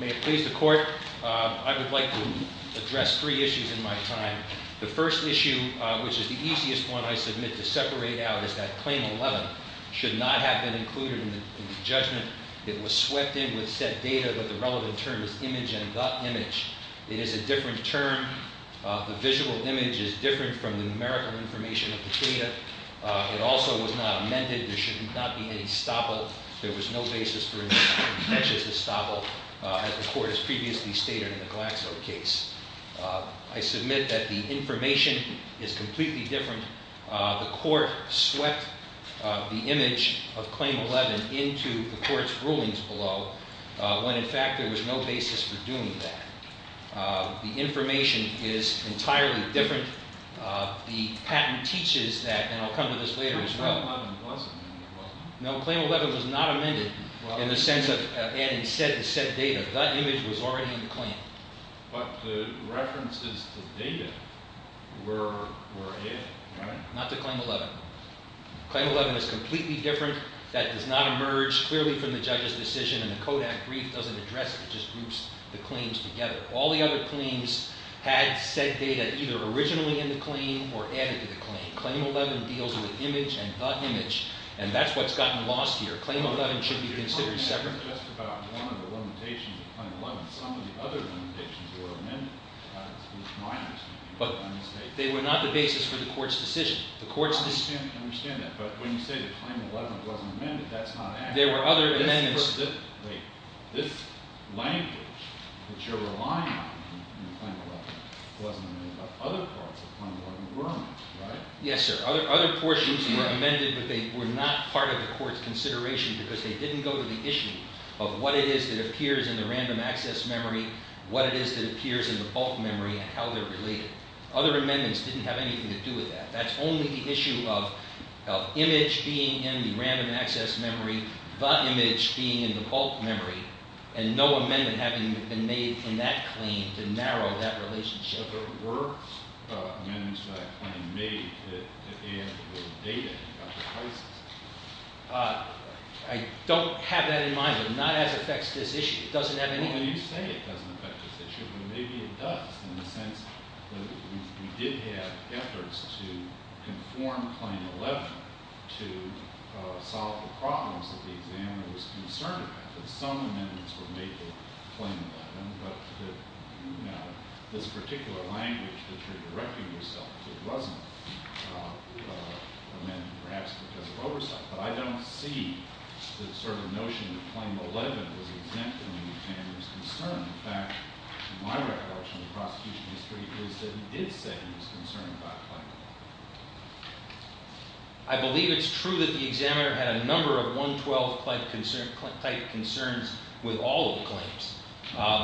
May it please the court, I would like to address three issues in my time. The first issue, which is the easiest one I submit to separate out, is that Claim 11 should not have been included in the judgment. It was swept in with said data, but the relevant term is image and the image. It is a different term. The visual image is different from the numerical information of the data. It also was not amended. There should not be any stoppa. There was no basis for an action to stop it, as the court has previously stated in the Glaxo case. I submit that the information is completely different. The court swept the image of Claim 11 into the court's rulings below, when in fact there was no basis for doing that. The information is entirely different. The patent teaches that, and I'll come to this later as well, no, Claim 11 was not amended in the sense of adding said data. That image was already in the claim. But the references to data were in, right? Not to Claim 11. Claim 11 is completely different. That does not emerge clearly from the judge's decision, and the Kodak brief doesn't address it. It just groups the claims together. All the other claims had said data either originally in the claim or added to the claim. Claim 11 deals with image and the image, and that's what's gotten lost here. Claim 11 should be considered separately. But that's just about one of the limitations of Claim 11. Some of the other limitations were amended, which is my understanding. They were not the basis for the court's decision. I understand that, but when you say that Claim 11 wasn't amended, that's not accurate. There were other amendments. This language that you're relying on in Claim 11 wasn't amended, but other parts of Claim 11 were amended, right? Yes, sir. Other portions were amended, but they were not part of the court's consideration because they didn't go to the issue of what it is that appears in the random access memory, what it is that appears in the bulk memory, and how they're related. Other amendments didn't have anything to do with that. That's only the issue of image being in the random access memory, the image being in the bulk memory, and no amendment having been made in that claim to narrow that relationship. But there were amendments to that claim made that add to the data about the crisis. I don't have that in mind, but not as it affects this issue. It doesn't have anything to do with it. Well, you say it doesn't affect this issue, but maybe it does in the sense that we did have efforts to conform Claim 11 to solve the problems that the examiner was concerned that some amendments were made to Claim 11, but that this particular language that you're directing yourself to wasn't amended perhaps because of oversight. But I don't see the notion that Claim 11 was exempt in the examiner's concern. In fact, my recollection of the prosecution history is that he did say he was concerned about Claim 11. I believe it's true that the examiner had a number of 112-type concerns with all of the claims.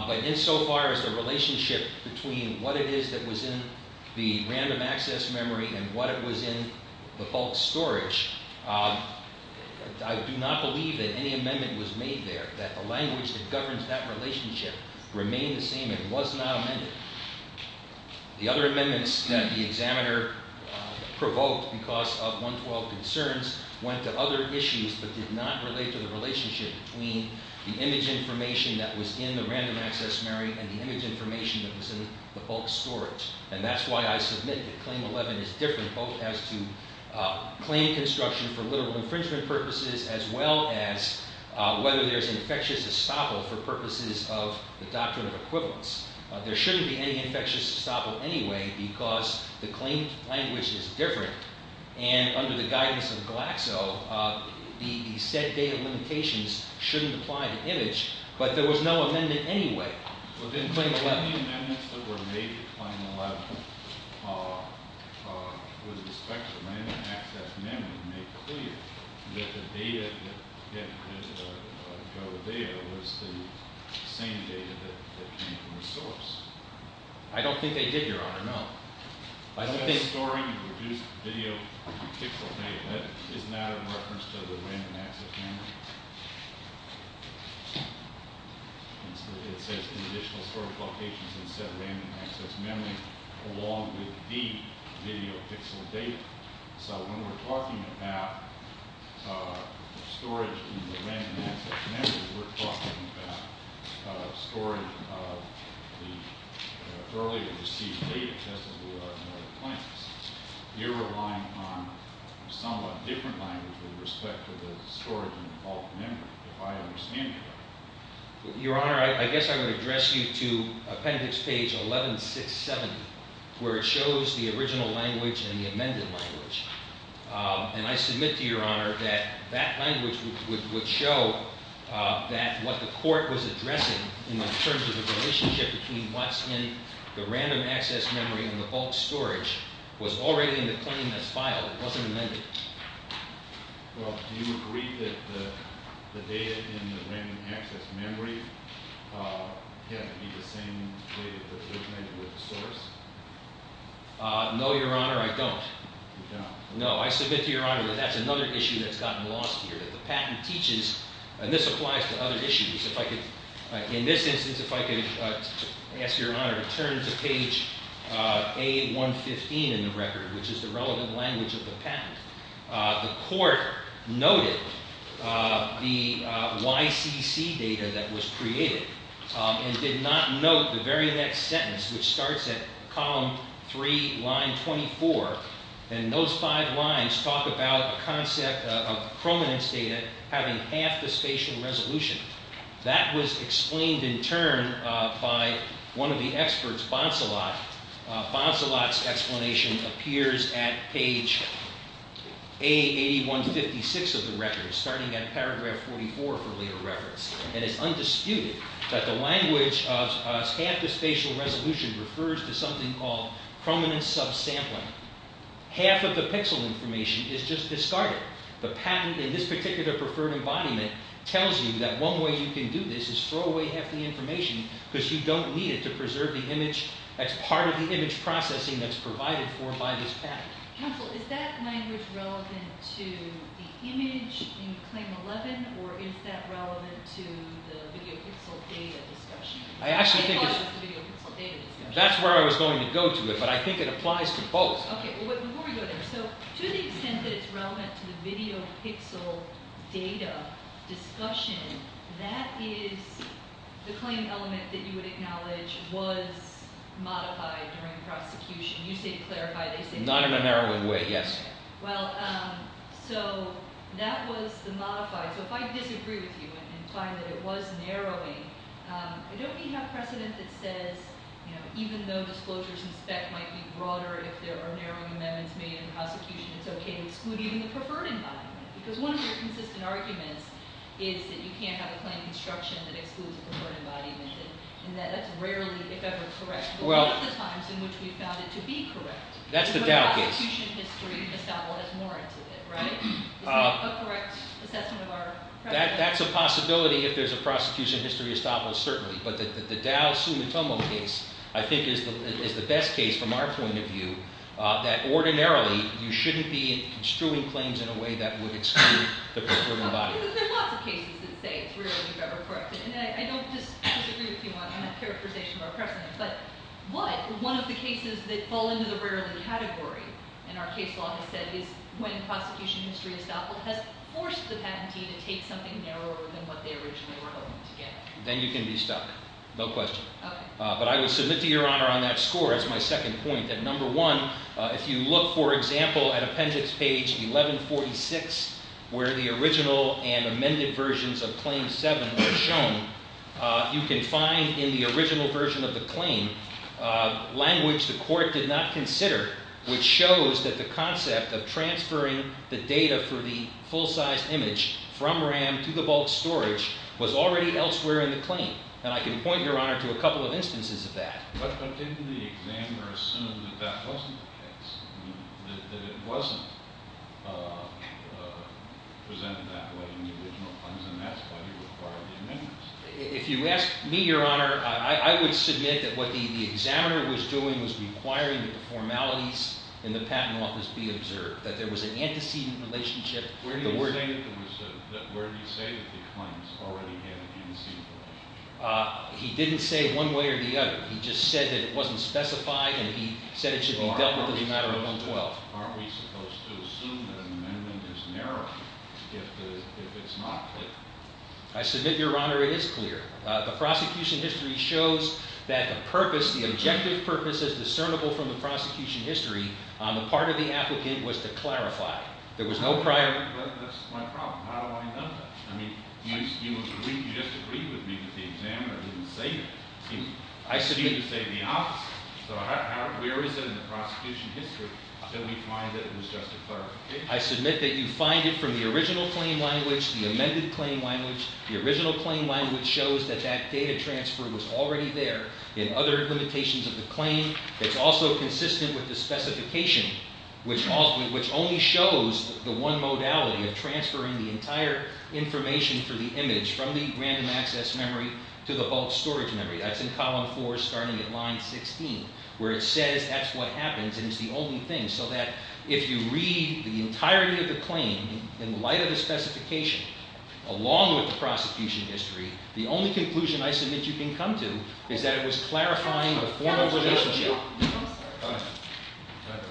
But insofar as the relationship between what it is that was in the random access memory and what it was in the bulk storage, I do not believe that any amendment was made there, that the language that governs that relationship remained the same and was not amended. The other amendments that the examiner provoked because of 112 concerns went to other issues but did not relate to the relationship between the image information that was in the random access memory and the image information that was in the bulk storage. And that's why I submit that Claim 11 is different both as to claim construction for literal infringement purposes as well as whether there's an infectious estoppel for purposes of the doctrine of equivalence. There shouldn't be any infectious estoppel anyway because the claim language is different. And under the guidance of Glaxo, the said data limitations shouldn't apply to image. But there was no amendment anyway within Claim 11. Any amendments that were made to Claim 11 with respect to random access memory make clear that the data that go there was the same data that came from the source. I don't think they did, Your Honor. No. By the way, storing reduced video pixel data is not a reference to the random access memory. It says conditional storage locations instead of random access memory along with the video pixel data. So when we're talking about storage in the random access memory, we're talking about storage of the earlier received data, just as we are in other claims. You're relying on a somewhat different language with respect to the storage in the bulk memory, if I understand correctly. Your Honor, I guess I would address you to appendix page 11670, where it shows the original language and the amended language. And I submit to Your Honor that that language would show that what the court was addressing in terms of the relationship between what's in the random access memory and the bulk storage was already in the claim that's filed. It wasn't amended. Well, do you agree that the data in the random access memory had to be the same data that was amended with the source? No, Your Honor, I don't. You don't. No. I submit to Your Honor that that's another issue that's gotten lost here, that the patent teaches, and this applies to other issues. In this instance, if I could ask Your Honor to turn to page A115 in the record, which is the relevant language of the patent, the court noted the YCC data that was created and did not note the very next sentence, which starts at column 3, line 24. And those five lines talk about a concept of chrominance data having half the spatial resolution. That was explained in turn by one of the experts, Bonsalot. Bonsalot's explanation appears at page A8156 of the record, starting at paragraph 44 for later reference. And it's undisputed that the language of half the spatial resolution refers to something called chrominance subsampling. Half of the pixel information is just discarded. The patent in this particular preferred embodiment tells you that one way you can do this is throw away half the information because you don't need it to preserve the image that's part of the image processing that's provided for by this patent. Counsel, is that language relevant to the image in Claim 11, or is that relevant to the video pixel data discussion? I actually think it's... I thought it was the video pixel data discussion. That's where I was going to go to it, but I think it applies to both. Okay, well, before we go there, so to the extent that it's relevant to the video pixel data discussion, that is the claim element that you would acknowledge was modified during prosecution. You say clarified. Not in a narrowing way, yes. Well, so that was the modified. So if I disagree with you and find that it was narrowing, don't we have precedent that says even though disclosures in spec might be broader if there are narrowing amendments made in the prosecution, it's okay to exclude even the preferred embodiment? Because one of your consistent arguments is that you can't have a claim construction that excludes a preferred embodiment, and that's rarely, if ever, correct. Well... But one of the times in which we found it to be correct... That's the Dow case. The prosecution history establishes more into it, right? Is that a correct assessment of our precedent? That's a possibility if there's a prosecution history established, certainly, but the Dow Sumitomo case, I think, is the best case from our point of view that ordinarily you shouldn't be construing claims in a way that would exclude the preferred embodiment. There are lots of cases that say it's rarely, if ever, corrected, and I don't disagree with you on that characterization of our precedent, but one of the cases that fall into the rarely category in our case law has said is when prosecution history has forced the patentee to take something narrower than what they originally were hoping to get. Then you can be stuck. No question. Okay. But I would submit to Your Honor on that score as my second point, that number one, if you look, for example, at appendix page 1146, where the original and amended versions of Claim 7 were shown, you can find in the original version of the claim language the court did not consider, which shows that the concept of transferring the data for the full-sized image from RAM to the bulk storage was already elsewhere in the claim. And I can point, Your Honor, to a couple of instances of that. But didn't the examiner assume that that wasn't the case, that it wasn't presented that way in the original claims, and that's why you required the amendments? If you ask me, Your Honor, I would submit that what the examiner was doing was requiring that the formalities in the Patent Office be observed, that there was an antecedent relationship. Where do you say that the claims already had an antecedent relationship? He didn't say one way or the other. He just said that it wasn't specified, and he said it should be dealt with in the matter of 112. Aren't we supposed to assume that an amendment is narrowing if it's not clear? I submit, Your Honor, it is clear. The prosecution history shows that the objective purpose is discernible from the prosecution history. The part of the applicant was to clarify. There was no prior... That's my problem. How do I know that? I mean, you just agreed with me that the examiner didn't say that. He didn't say the opposite. So where is it in the prosecution history that we find that it was just a clarification? I submit that you find it from the original claim language, the amended claim language. The original claim language shows that that data transfer was already there in other limitations of the claim. It's also consistent with the specification, which only shows the one modality of transferring the entire information for the image from the random access memory to the bulk storage memory. That's in column four, starting at line 16, where it says that's what happens, and it's the only thing. So that if you read the entirety of the claim in light of the specification, along with the prosecution history, the only conclusion I submit you can come to is that it was clarifying the formal relationship. I'm sorry. Go ahead.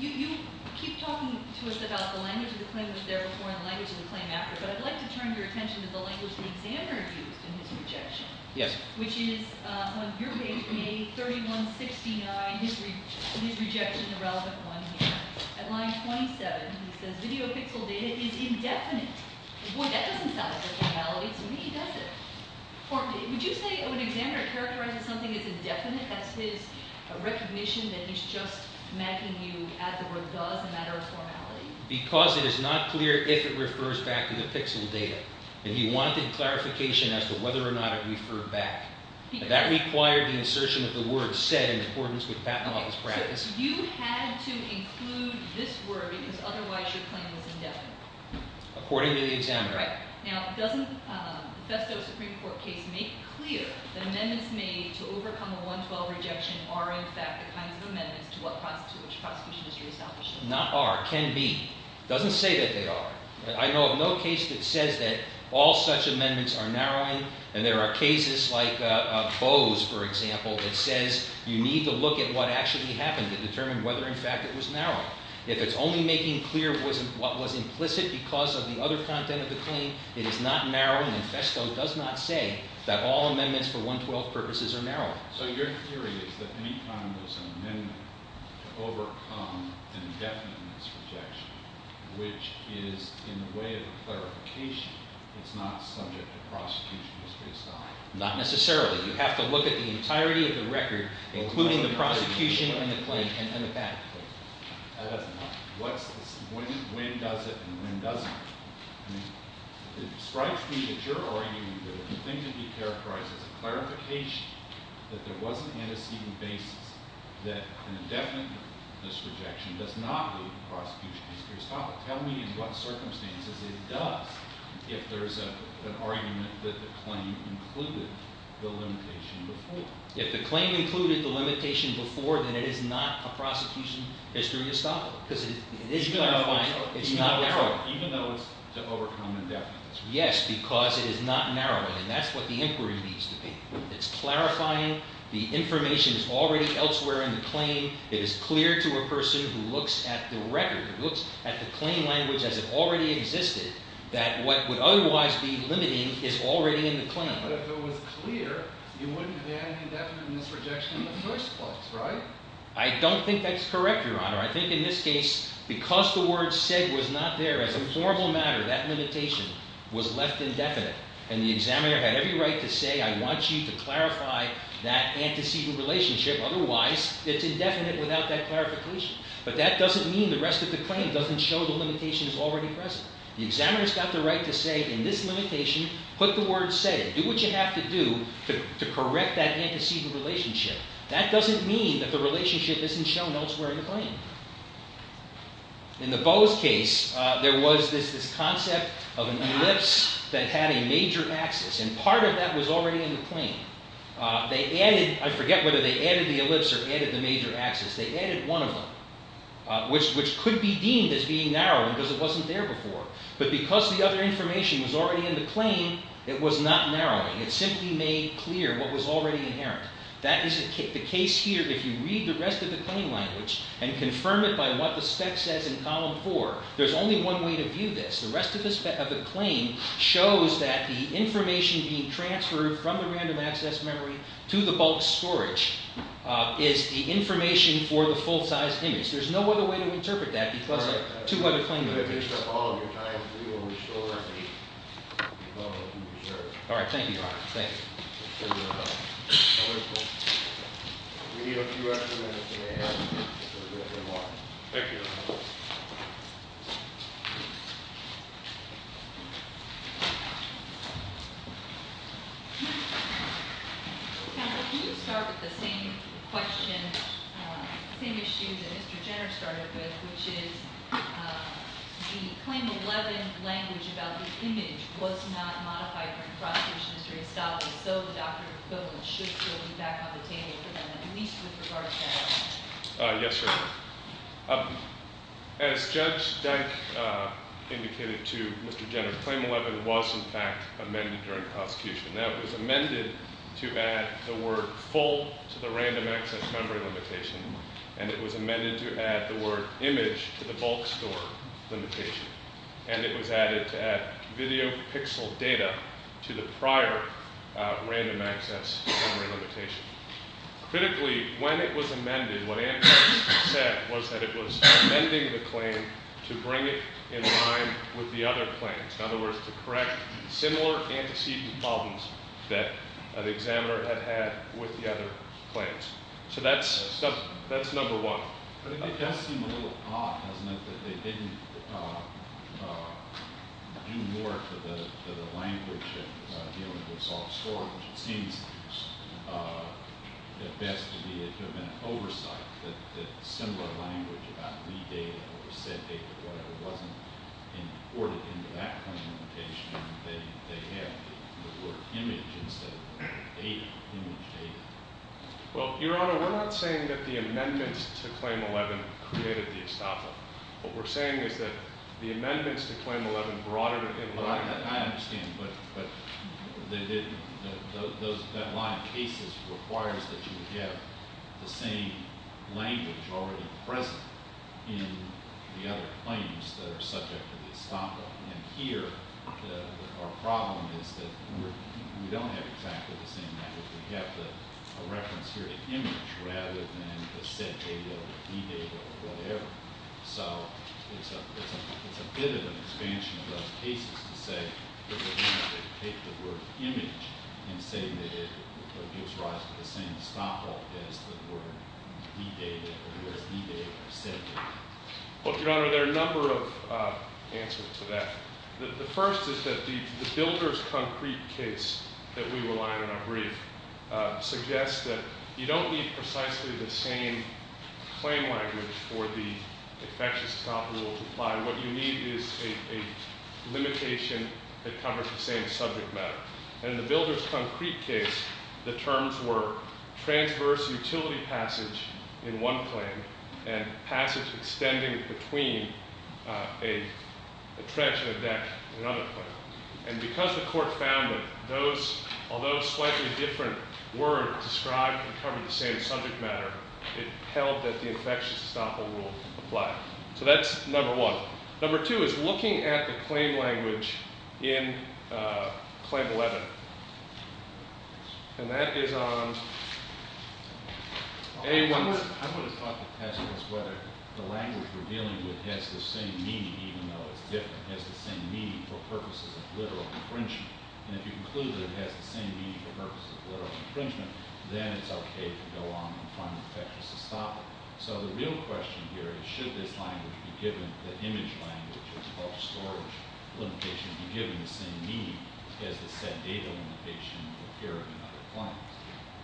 You keep talking to us about the language of the claim that was there before and the language of the claim after, but I'd like to turn your attention to the language the examiner used in his rejection. Yes. Which is on your page, page 3169, his rejection, the relevant one here. At line 27, he says, video pixel data is indefinite. Boy, that doesn't sound like a modality to me, does it? Would you say when an examiner characterizes something as indefinite, that's his recognition that he's just making you add the word does, a matter of formality? Because it is not clear if it refers back to the pixel data, and he wanted clarification as to whether or not it referred back. That required the insertion of the word said in accordance with patent office practice. So you had to include this word, because otherwise your claim was indefinite. According to the examiner. Right. Now, doesn't Besto's Supreme Court case make clear that amendments made to overcome a 112 rejection are, in fact, the kinds of amendments to what prosecution is to establish? Not are, can be. It doesn't say that they are. I know of no case that says that all such amendments are narrowing, and there are cases like Boe's, for example, that says you need to look at what actually happened to determine whether, in fact, it was narrowing. If it's only making clear what was implicit because of the other content of the claim, it is not narrowing, and Besto does not say that all amendments for 112 purposes are narrowing. So your theory is that any time there's an amendment to overcome an indefinite rejection, which is in the way of clarification, it's not subject to prosecution, it's based on? Not necessarily. You have to look at the entirety of the record, including the prosecution and the claim, and When does it, and when doesn't it? It strikes me that you're arguing that the thing to be characterized as a clarification, that there was an antecedent basis, that an indefinite rejection does not lead to prosecution history estoppel. Tell me in what circumstances it does, if there's an argument that the claim included the limitation before. If the claim included the limitation before, then it is not a prosecution history estoppel because it is clarifying. It's not narrowing. Even though it's to overcome indefinite. Yes, because it is not narrowing, and that's what the inquiry needs to be. It's clarifying. The information is already elsewhere in the claim. It is clear to a person who looks at the record, who looks at the claim language as it already existed, that what would otherwise be limiting is already in the claim. But if it was clear, you wouldn't have had an indefinite misrejection in the first place, right? I don't think that's correct, Your Honor. I think in this case, because the word said was not there as a formal matter, that limitation was left indefinite, and the examiner had every right to say, I want you to clarify that antecedent relationship. Otherwise, it's indefinite without that clarification. But that doesn't mean the rest of the claim doesn't show the limitation is already present. The examiner's got the right to say, in this limitation, put the word said. Do what you have to do to correct that antecedent relationship. That doesn't mean that the relationship isn't shown elsewhere in the claim. In the Bose case, there was this concept of an ellipse that had a major axis, and part of that was already in the claim. They added, I forget whether they added the ellipse or added the major axis, they added one of them, which could be deemed as being narrowing because it wasn't there before. But because the other information was already in the claim, it was not narrowing. It simply made clear what was already inherent. That is the case here. If you read the rest of the claim language and confirm it by what the spec says in column four, there's only one way to view this. The rest of the claim shows that the information being transferred from the random access memory to the bulk storage is the information for the full-size image. There's no other way to interpret that because two other claim languages. Alright, thank you, Ron. Thank you. We need a few extra minutes to get here. Thank you. Counsel, could you start with the same question, the same issue that Mr. Jenner started with, which is the Claim 11 language about the image was not modified during the prosecution history of Stottley, so the doctorate of equivalent should still be back on the table for them at least with regards to that. Yes, sir. As Judge Dyke indicated to Mr. Jenner, Claim 11 was in fact amended during the prosecution. Now, it was amended to add the word full to the random access memory limitation, and it was amended to add the word image to the bulk store limitation, and it was added to add video pixel data to the prior random access memory limitation. Critically, when it was amended, what Antos said was that it was amending the claim to bring it in line with the other claims. In other words, to correct similar antecedent problems that the examiner had had with the other claims. So that's number one. It does seem a little odd, doesn't it, that they didn't do more to the language of dealing with soft storage. It seems at best to be an oversight that similar language about read data or set data or whatever wasn't imported into that claim limitation. They have the word image instead of data, image data. Well, Your Honor, we're not saying that the amendments to Claim 11 created the estoppel. What we're saying is that the amendments to Claim 11 brought it in line. I understand, but that line of cases requires that you have the same language already present in the other claims that are subject to the estoppel. And here, our problem is that we don't have exactly the same language. We have a reference here to image rather than the set data or read data or whatever. So it's a bit of an expansion of those cases to say that we're going to take the word image and say that it gives rise to the same estoppel as the word read data or set data. Well, Your Honor, there are a number of answers to that. The first is that the builder's concrete case that we rely on in our brief suggests that you don't need precisely the same claim language for the infectious estoppel to apply. What you need is a limitation that covers the same subject matter. And in the builder's concrete case, the terms were transverse utility passage in one claim and passage extending between a trench and a deck in another claim. And because the court found that those, although slightly different, were described and covered the same subject matter, it held that the infectious estoppel rule applied. So that's number one. Number two is looking at the claim language in Claim 11. And that is on A1. I would have thought the test was whether the language we're dealing with has the same meaning, even though it's different, has the same meaning for purposes of literal infringement. And if you conclude that it has the same meaning for purposes of literal infringement, then it's okay to go on and find infectious estoppel. So the real question here is should this language be given, the image language, of storage limitation be given the same meaning as the set data limitation here in another claim?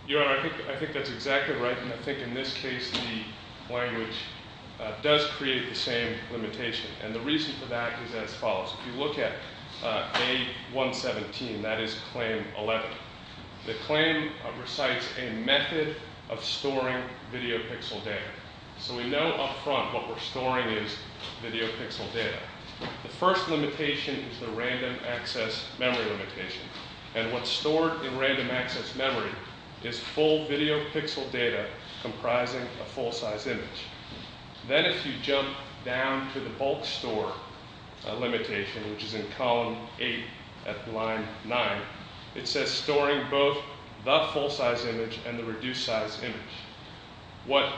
Your Honor, I think that's exactly right. And I think in this case the language does create the same limitation. And the reason for that is as follows. If you look at A117, that is Claim 11, the claim recites a method of storing video pixel data. So we know up front what we're storing is video pixel data. The first limitation is the random access memory limitation. And what's stored in random access memory is full video pixel data comprising a full-size image. Then if you jump down to the bulk store limitation, which is in column 8 at line 9, it says storing both the full-size image and the reduced-size image. What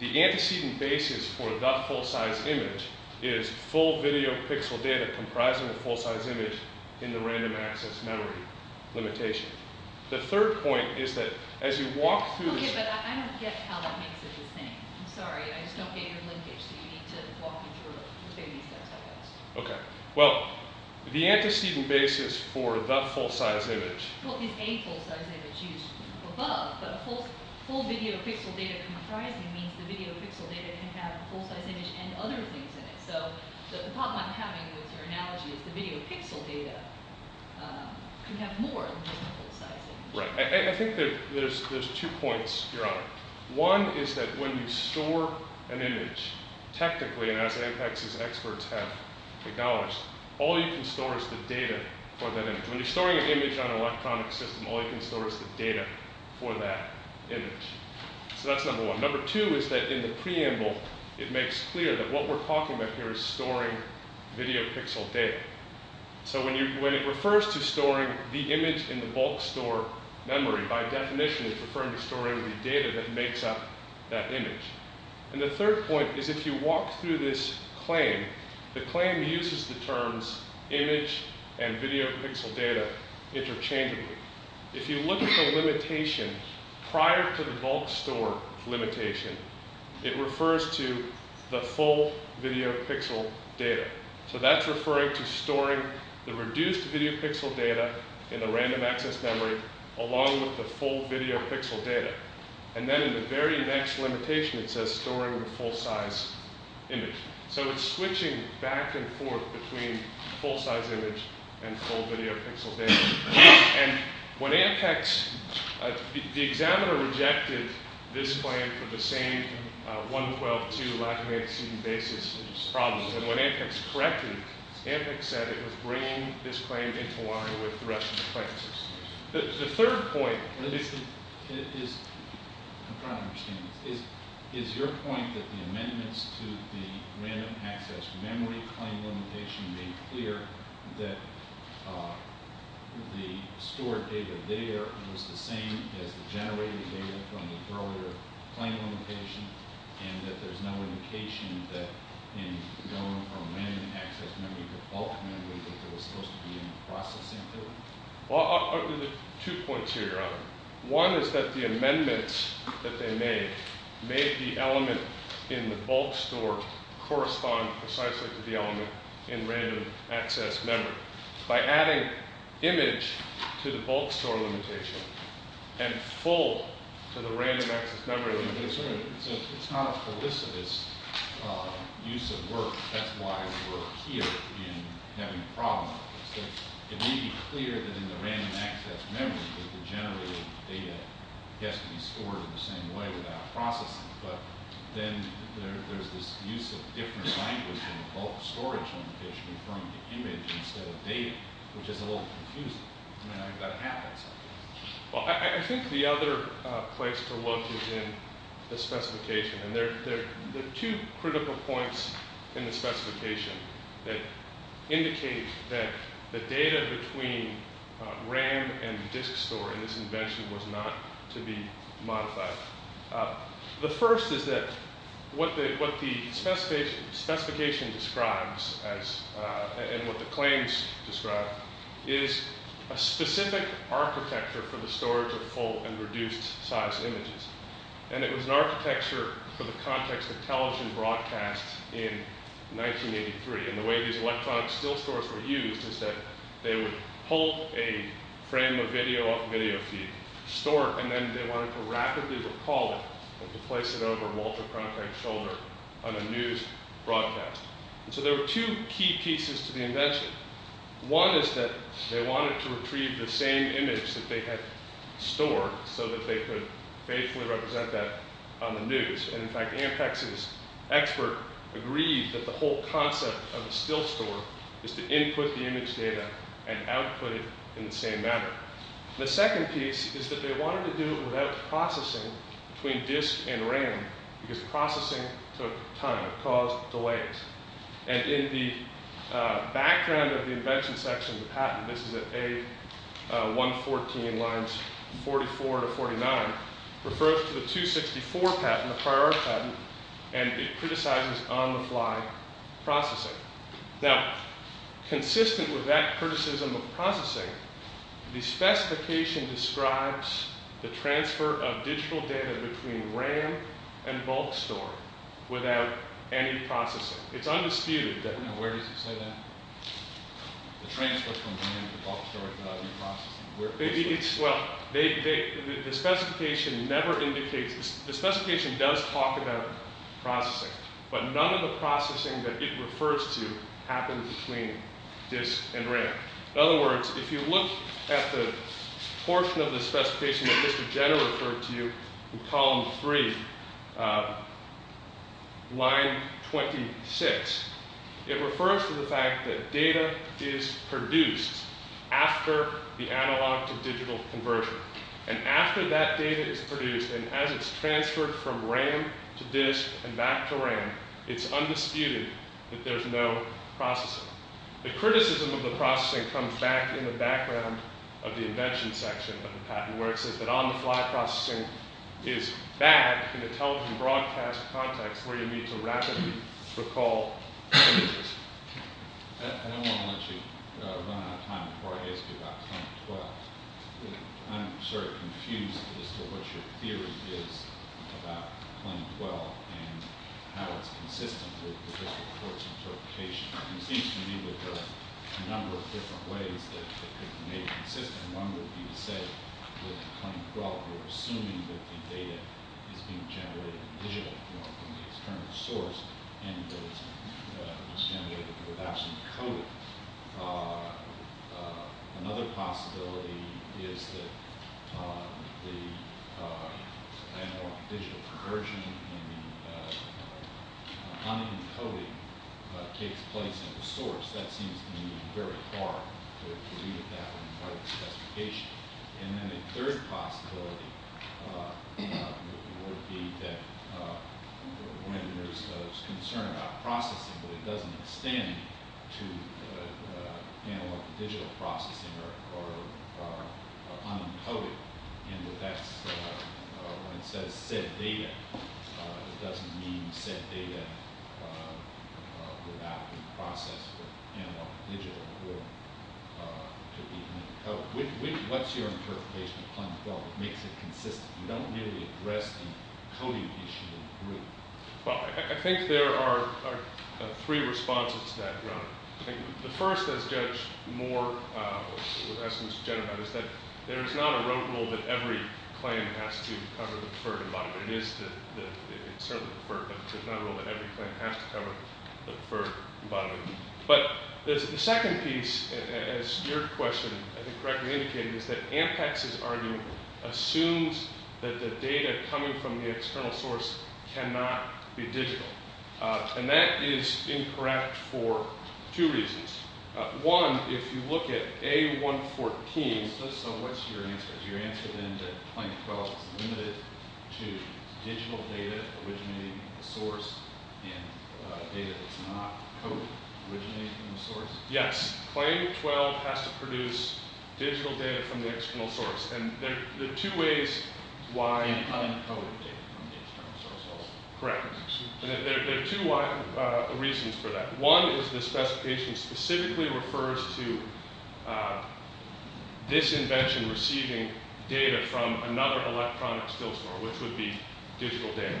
the antecedent basis for the full-size image is full video pixel data comprising a full-size image in the random access memory limitation. The third point is that as you walk through the- Okay, but I don't get how that makes it the same. I'm sorry, I just don't get your linkage. So you need to walk me through it. Okay. Well, the antecedent basis for the full-size image- Well, it is a full-size image used above, but a full video pixel data comprising means the video pixel data can have a full-size image and other things in it. So the problem I'm having with your analogy is the video pixel data can have more than just a full-size image. Right. I think there's two points, Your Honor. One is that when you store an image, technically, and as Apex's experts have acknowledged, all you can store is the data for that image. When you're storing an image on an electronic system, all you can store is the data for that image. So that's number one. Number two is that in the preamble, it makes clear that what we're talking about here is storing video pixel data. So when it refers to storing the image in the bulk store memory, by definition, it's referring to storing the data that makes up that image. And the third point is if you walk through this claim, the claim uses the terms image and video pixel data interchangeably. If you look at the limitation prior to the bulk store limitation, it refers to the full video pixel data. So that's referring to storing the reduced video pixel data in the random access memory along with the full video pixel data. And then in the very next limitation, it says storing the full-size image. So it's switching back and forth between full-size image and full video pixel data. And when Ampex – the examiner rejected this claim for the same 112.2 Latinx student basis problems. And when Ampex corrected, Ampex said it was bringing this claim into line with the rest of the claim system. The third point is – I'm trying to understand this. Is your point that the amendments to the random access memory claim limitation made clear that the stored data there was the same as the generated data from the earlier claim limitation and that there's no indication that in going from random access memory to bulk memory, that there was supposed to be any processing to it? Well, there's two points here, Your Honor. One is that the amendments that they made made the element in the bulk store correspond precisely to the element that we have in random access memory. By adding image to the bulk store limitation and full to the random access memory, it's not a felicitous use of work. That's why we're here in having a problem. It may be clear that in the random access memory, the generated data has to be stored in the same way without processing. But then there's this use of different languages in the bulk storage limitation from the image instead of data, which is a little confusing. I mean, I've got to have that stuff. Well, I think the other place to look is in the specification. And there are two critical points in the specification that indicate that the data between RAM and the disk store in this invention was not to be modified. The first is that what the specification describes and what the claims describe is a specific architecture for the storage of full and reduced size images. And it was an architecture for the context of television broadcasts in 1983. And the way these electronic still stores were used is that they would hold a frame of video feed, store it, and then they wanted to rapidly recall it and place it over Walter Cronkite's shoulder on a news broadcast. And so there were two key pieces to the invention. One is that they wanted to retrieve the same image that they had stored so that they could faithfully represent that on the news. And, in fact, Ampex's expert agreed that the whole concept of a still store is to input the image data and output it in the same manner. The second piece is that they wanted to do it without processing between disk and RAM because processing took time. It caused delays. And in the background of the invention section of the patent, this is at A114 lines 44 to 49, refers to the 264 patent, the priority patent, and it criticizes on-the-fly processing. Now, consistent with that criticism of processing, the specification describes the transfer of digital data between RAM and bulk store without any processing. It's undisputed that— Now, where does it say that? The transfer from RAM to bulk store without any processing. Well, the specification never indicates—the specification does talk about processing, but none of the processing that it refers to happens between disk and RAM. In other words, if you look at the portion of the specification that Mr. Jenner referred to in column 3, line 26, it refers to the fact that data is produced after the analog-to-digital conversion. And after that data is produced, and as it's transferred from RAM to disk and back to RAM, it's undisputed that there's no processing. The criticism of the processing comes back in the background of the invention section of the patent, where it says that on-the-fly processing is bad in a television broadcast context where you need to rapidly recall images. I don't want to let you run out of time before I ask you about Claim 12. I'm sort of confused as to what your theory is about Claim 12 and how it's consistent with the district court's interpretation. It seems to me that there are a number of different ways that it may be consistent. One would be to say with Claim 12, we're assuming that the data is being generated digitally from the external source and that it's being generated without some coding. Another possibility is that the analog-to-digital conversion and the unencoding takes place at the source. That seems to me very hard to read at that part of the specification. And then a third possibility would be that when there's concern about processing, but it doesn't extend to analog-to-digital processing or unencoded, and that's when it says set data, it doesn't mean set data without the process for analog-to-digital to be unencoded. What's your interpretation of Claim 12 that makes it consistent? You don't really address the coding issue in the group. Well, I think there are three responses to that, Your Honor. The first, as Judge Moore has suggested, is that there is not a road rule that every claim has to cover the preferred environment. It certainly is the preferred, but there's not a rule that every claim has to cover the preferred environment. But the second piece, as your question, I think, correctly indicated, is that Ampex's argument assumes that the data coming from the external source cannot be digital. And that is incorrect for two reasons. One, if you look at A114. So what's your answer? Yes. Claim 12 has to produce digital data from the external source. And there are two ways why. Correct. There are two reasons for that. One is the specification specifically refers to this invention receiving data from another electronic still store, which would be digital data.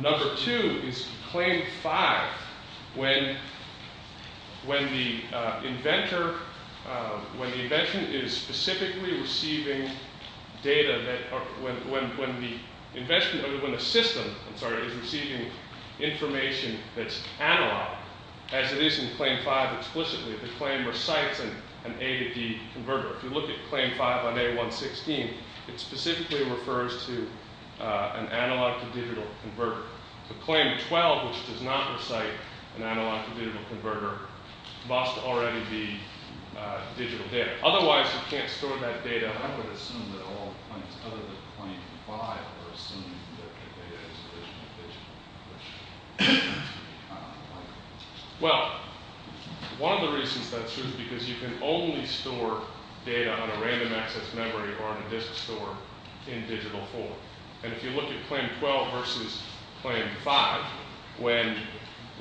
Number two is Claim 5. When the inventor, when the invention is specifically receiving data, when the system is receiving information that's analog, as it is in Claim 5 explicitly, the claim recites an A to D converter. If you look at Claim 5 on A116, it specifically refers to an analog to digital converter. The Claim 12, which does not recite an analog to digital converter, must already be digital data. Otherwise, you can't store that data. I would assume that all other than Claim 5 are assuming that their data is originally digital. Well, one of the reasons that's true is because you can only store data on a random access memory or on a disk store in digital form. And if you look at Claim 12 versus Claim 5, when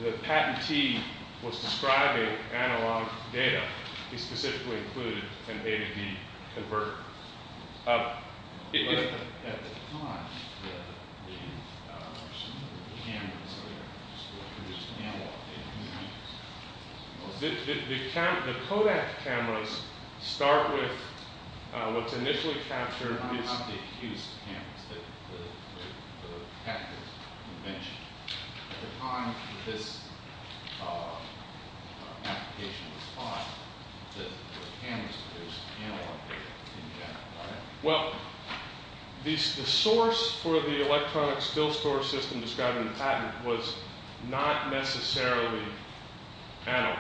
the patentee was describing analog data, he specifically included an A to D converter. At the time, there were some cameras that produced analog data. The Kodak cameras start with what's initially captured. At the time, how did they use the cameras that the patenters mentioned? At the time this application was filed, the cameras produced analog data in general, right? Well, the source for the electronic still store system described in the patent was not necessarily analog.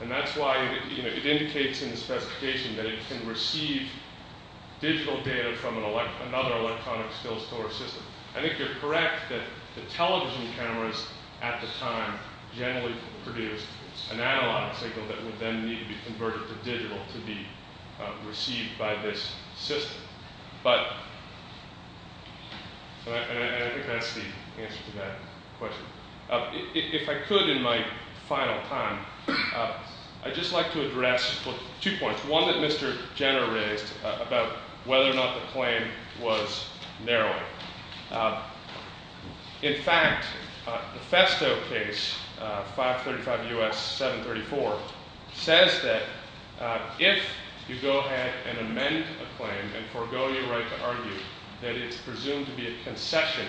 And that's why it indicates in the specification that it can receive digital data from another electronic still store system. I think you're correct that the television cameras at the time generally produced an analog signal that would then need to be converted to digital to be received by this system. But I think that's the answer to that question. If I could, in my final time, I'd just like to address two points. One that Mr. Jenner raised about whether or not the claim was narrowing. In fact, the Festo case, 535 U.S. 734, says that if you go ahead and amend a claim and forego your right to argue that it's presumed to be a concession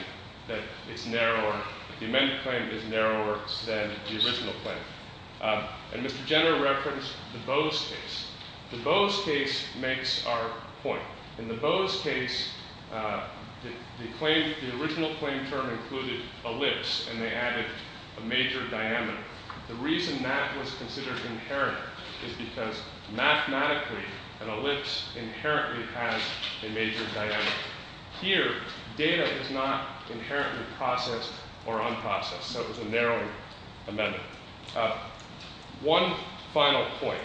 that it's narrower, the amended claim is narrower than the original claim. And Mr. Jenner referenced the Bose case. The Bose case makes our point. In the Bose case, the original claim term included ellipse and they added a major diameter. The reason that was considered inherent is because mathematically an ellipse inherently has a major diameter. Here, data is not inherently processed or unprocessed. So it was a narrowing amendment. One final point.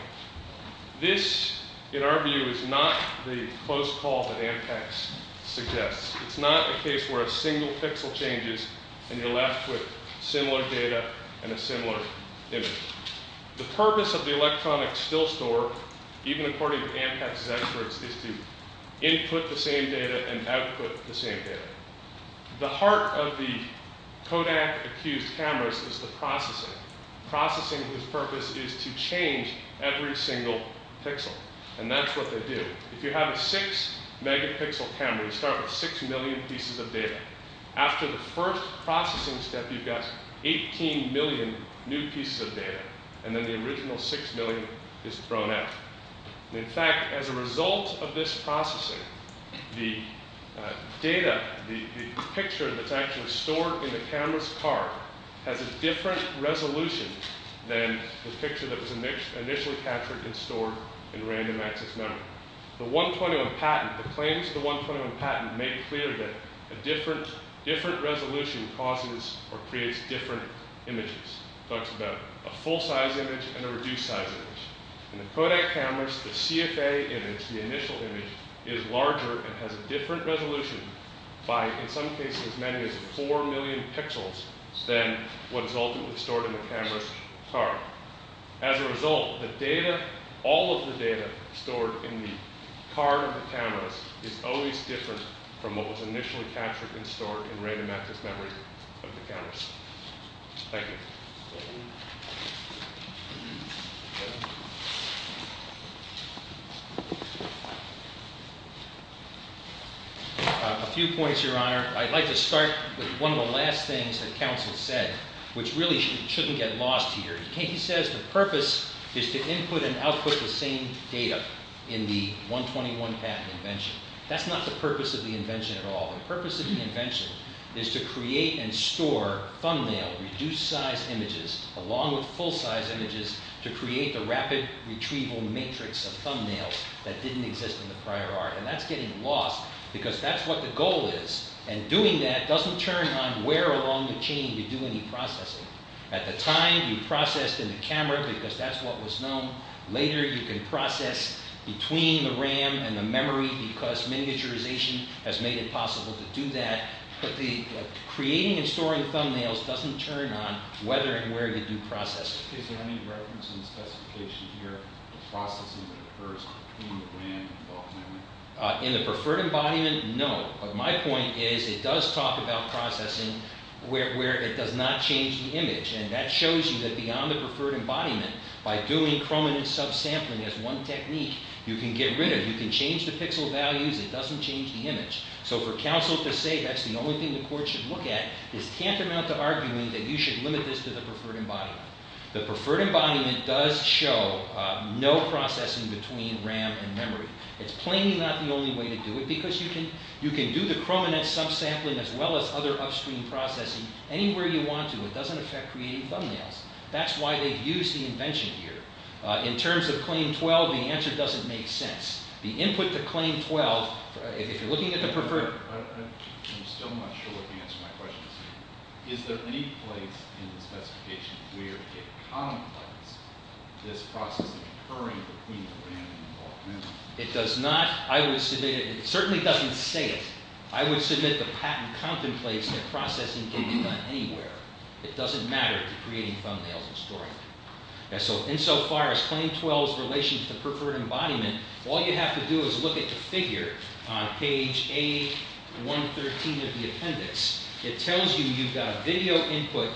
This, in our view, is not the close call that Ampex suggests. It's not a case where a single pixel changes and you're left with similar data and a similar image. The purpose of the electronic still store, even according to Ampex's experts, is to input the same data and output the same data. The heart of the Kodak accused cameras is the processing. Processing's purpose is to change every single pixel. And that's what they do. If you have a six megapixel camera, you start with six million pieces of data. After the first processing step, you've got 18 million new pieces of data. And then the original six million is thrown out. In fact, as a result of this processing, the data, the picture that's actually stored in the camera's card, has a different resolution than the picture that was initially captured and stored in random access memory. The claims of the 121 patent make it clear that a different resolution causes or creates different images. It talks about a full-size image and a reduced-size image. In the Kodak cameras, the CFA image, the initial image, is larger and has a different resolution by, in some cases, as many as four million pixels than what is ultimately stored in the camera's card. As a result, the data, all of the data stored in the card of the cameras, is always different from what was initially captured and stored in random access memory of the cameras. Thank you. A few points, Your Honor. I'd like to start with one of the last things that counsel said, which really shouldn't get lost here. He says the purpose is to input and output the same data in the 121 patent invention. That's not the purpose of the invention at all. The purpose of the invention is to create and store thumbnail, reduced-size images, along with full-size images, to create the rapid retrieval matrix of thumbnails that didn't exist in the prior art. And that's getting lost because that's what the goal is. And doing that doesn't turn on where along the chain you do any processing. At the time, you processed in the camera because that's what was known. Later, you can process between the RAM and the memory because miniaturization has made it possible to do that. But creating and storing thumbnails doesn't turn on whether and where you do processing. In the preferred embodiment, no. But my point is it does talk about processing where it does not change the image. And that shows you that beyond the preferred embodiment, by doing chrominance subsampling as one technique, you can get rid of it. You can change the pixel values. It doesn't change the image. So for counsel to say that's the only thing the court should look at is tantamount to arguing that you should limit this to the preferred embodiment. The preferred embodiment does show no processing between RAM and memory. It's plainly not the only way to do it because you can do the chrominance subsampling as well as other upstream processing anywhere you want to. It doesn't affect creating thumbnails. That's why they've used the invention here. In terms of Claim 12, the answer doesn't make sense. The input to Claim 12, if you're looking at the preferred— I'm still not sure what the answer to my question is. Is there any place in the specification where it contemplates this process occurring between RAM and memory? It does not. I would submit—it certainly doesn't say it. I would submit the patent contemplates that processing can be done anywhere. It doesn't matter to creating thumbnails and storing them. So insofar as Claim 12's relation to the preferred embodiment, all you have to do is look at the figure on page A113 of the appendix. It tells you you've got video input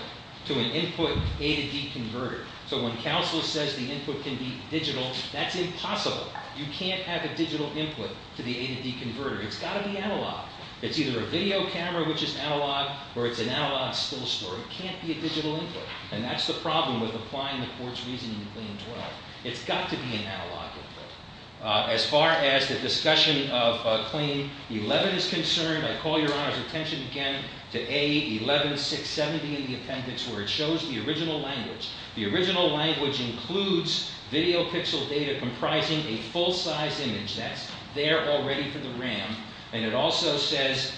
to an input A to D converter. So when counsel says the input can be digital, that's impossible. You can't have a digital input to the A to D converter. It's got to be analog. It's either a video camera, which is analog, or it's an analog still story. It can't be a digital input, and that's the problem with applying the court's reasoning to Claim 12. It's got to be an analog input. As far as the discussion of Claim 11 is concerned, I call Your Honor's attention again to A11670 in the appendix, where it shows the original language. The original language includes video pixel data comprising a full-size image. That's there already for the RAM, and it also says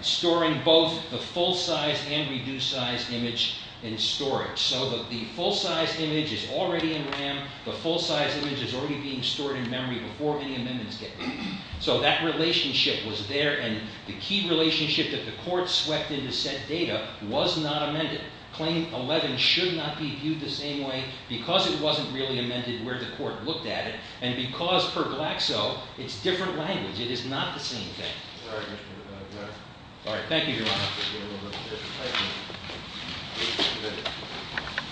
storing both the full-size and reduced-size image in storage. So the full-size image is already in RAM. The full-size image is already being stored in memory before any amendments get made. So that relationship was there, and the key relationship that the court swept into said data was not amended. Claim 11 should not be viewed the same way because it wasn't really amended where the court looked at it, and because per Glaxo, it's different language. It is not the same thing. All right. Thank you, Your Honor.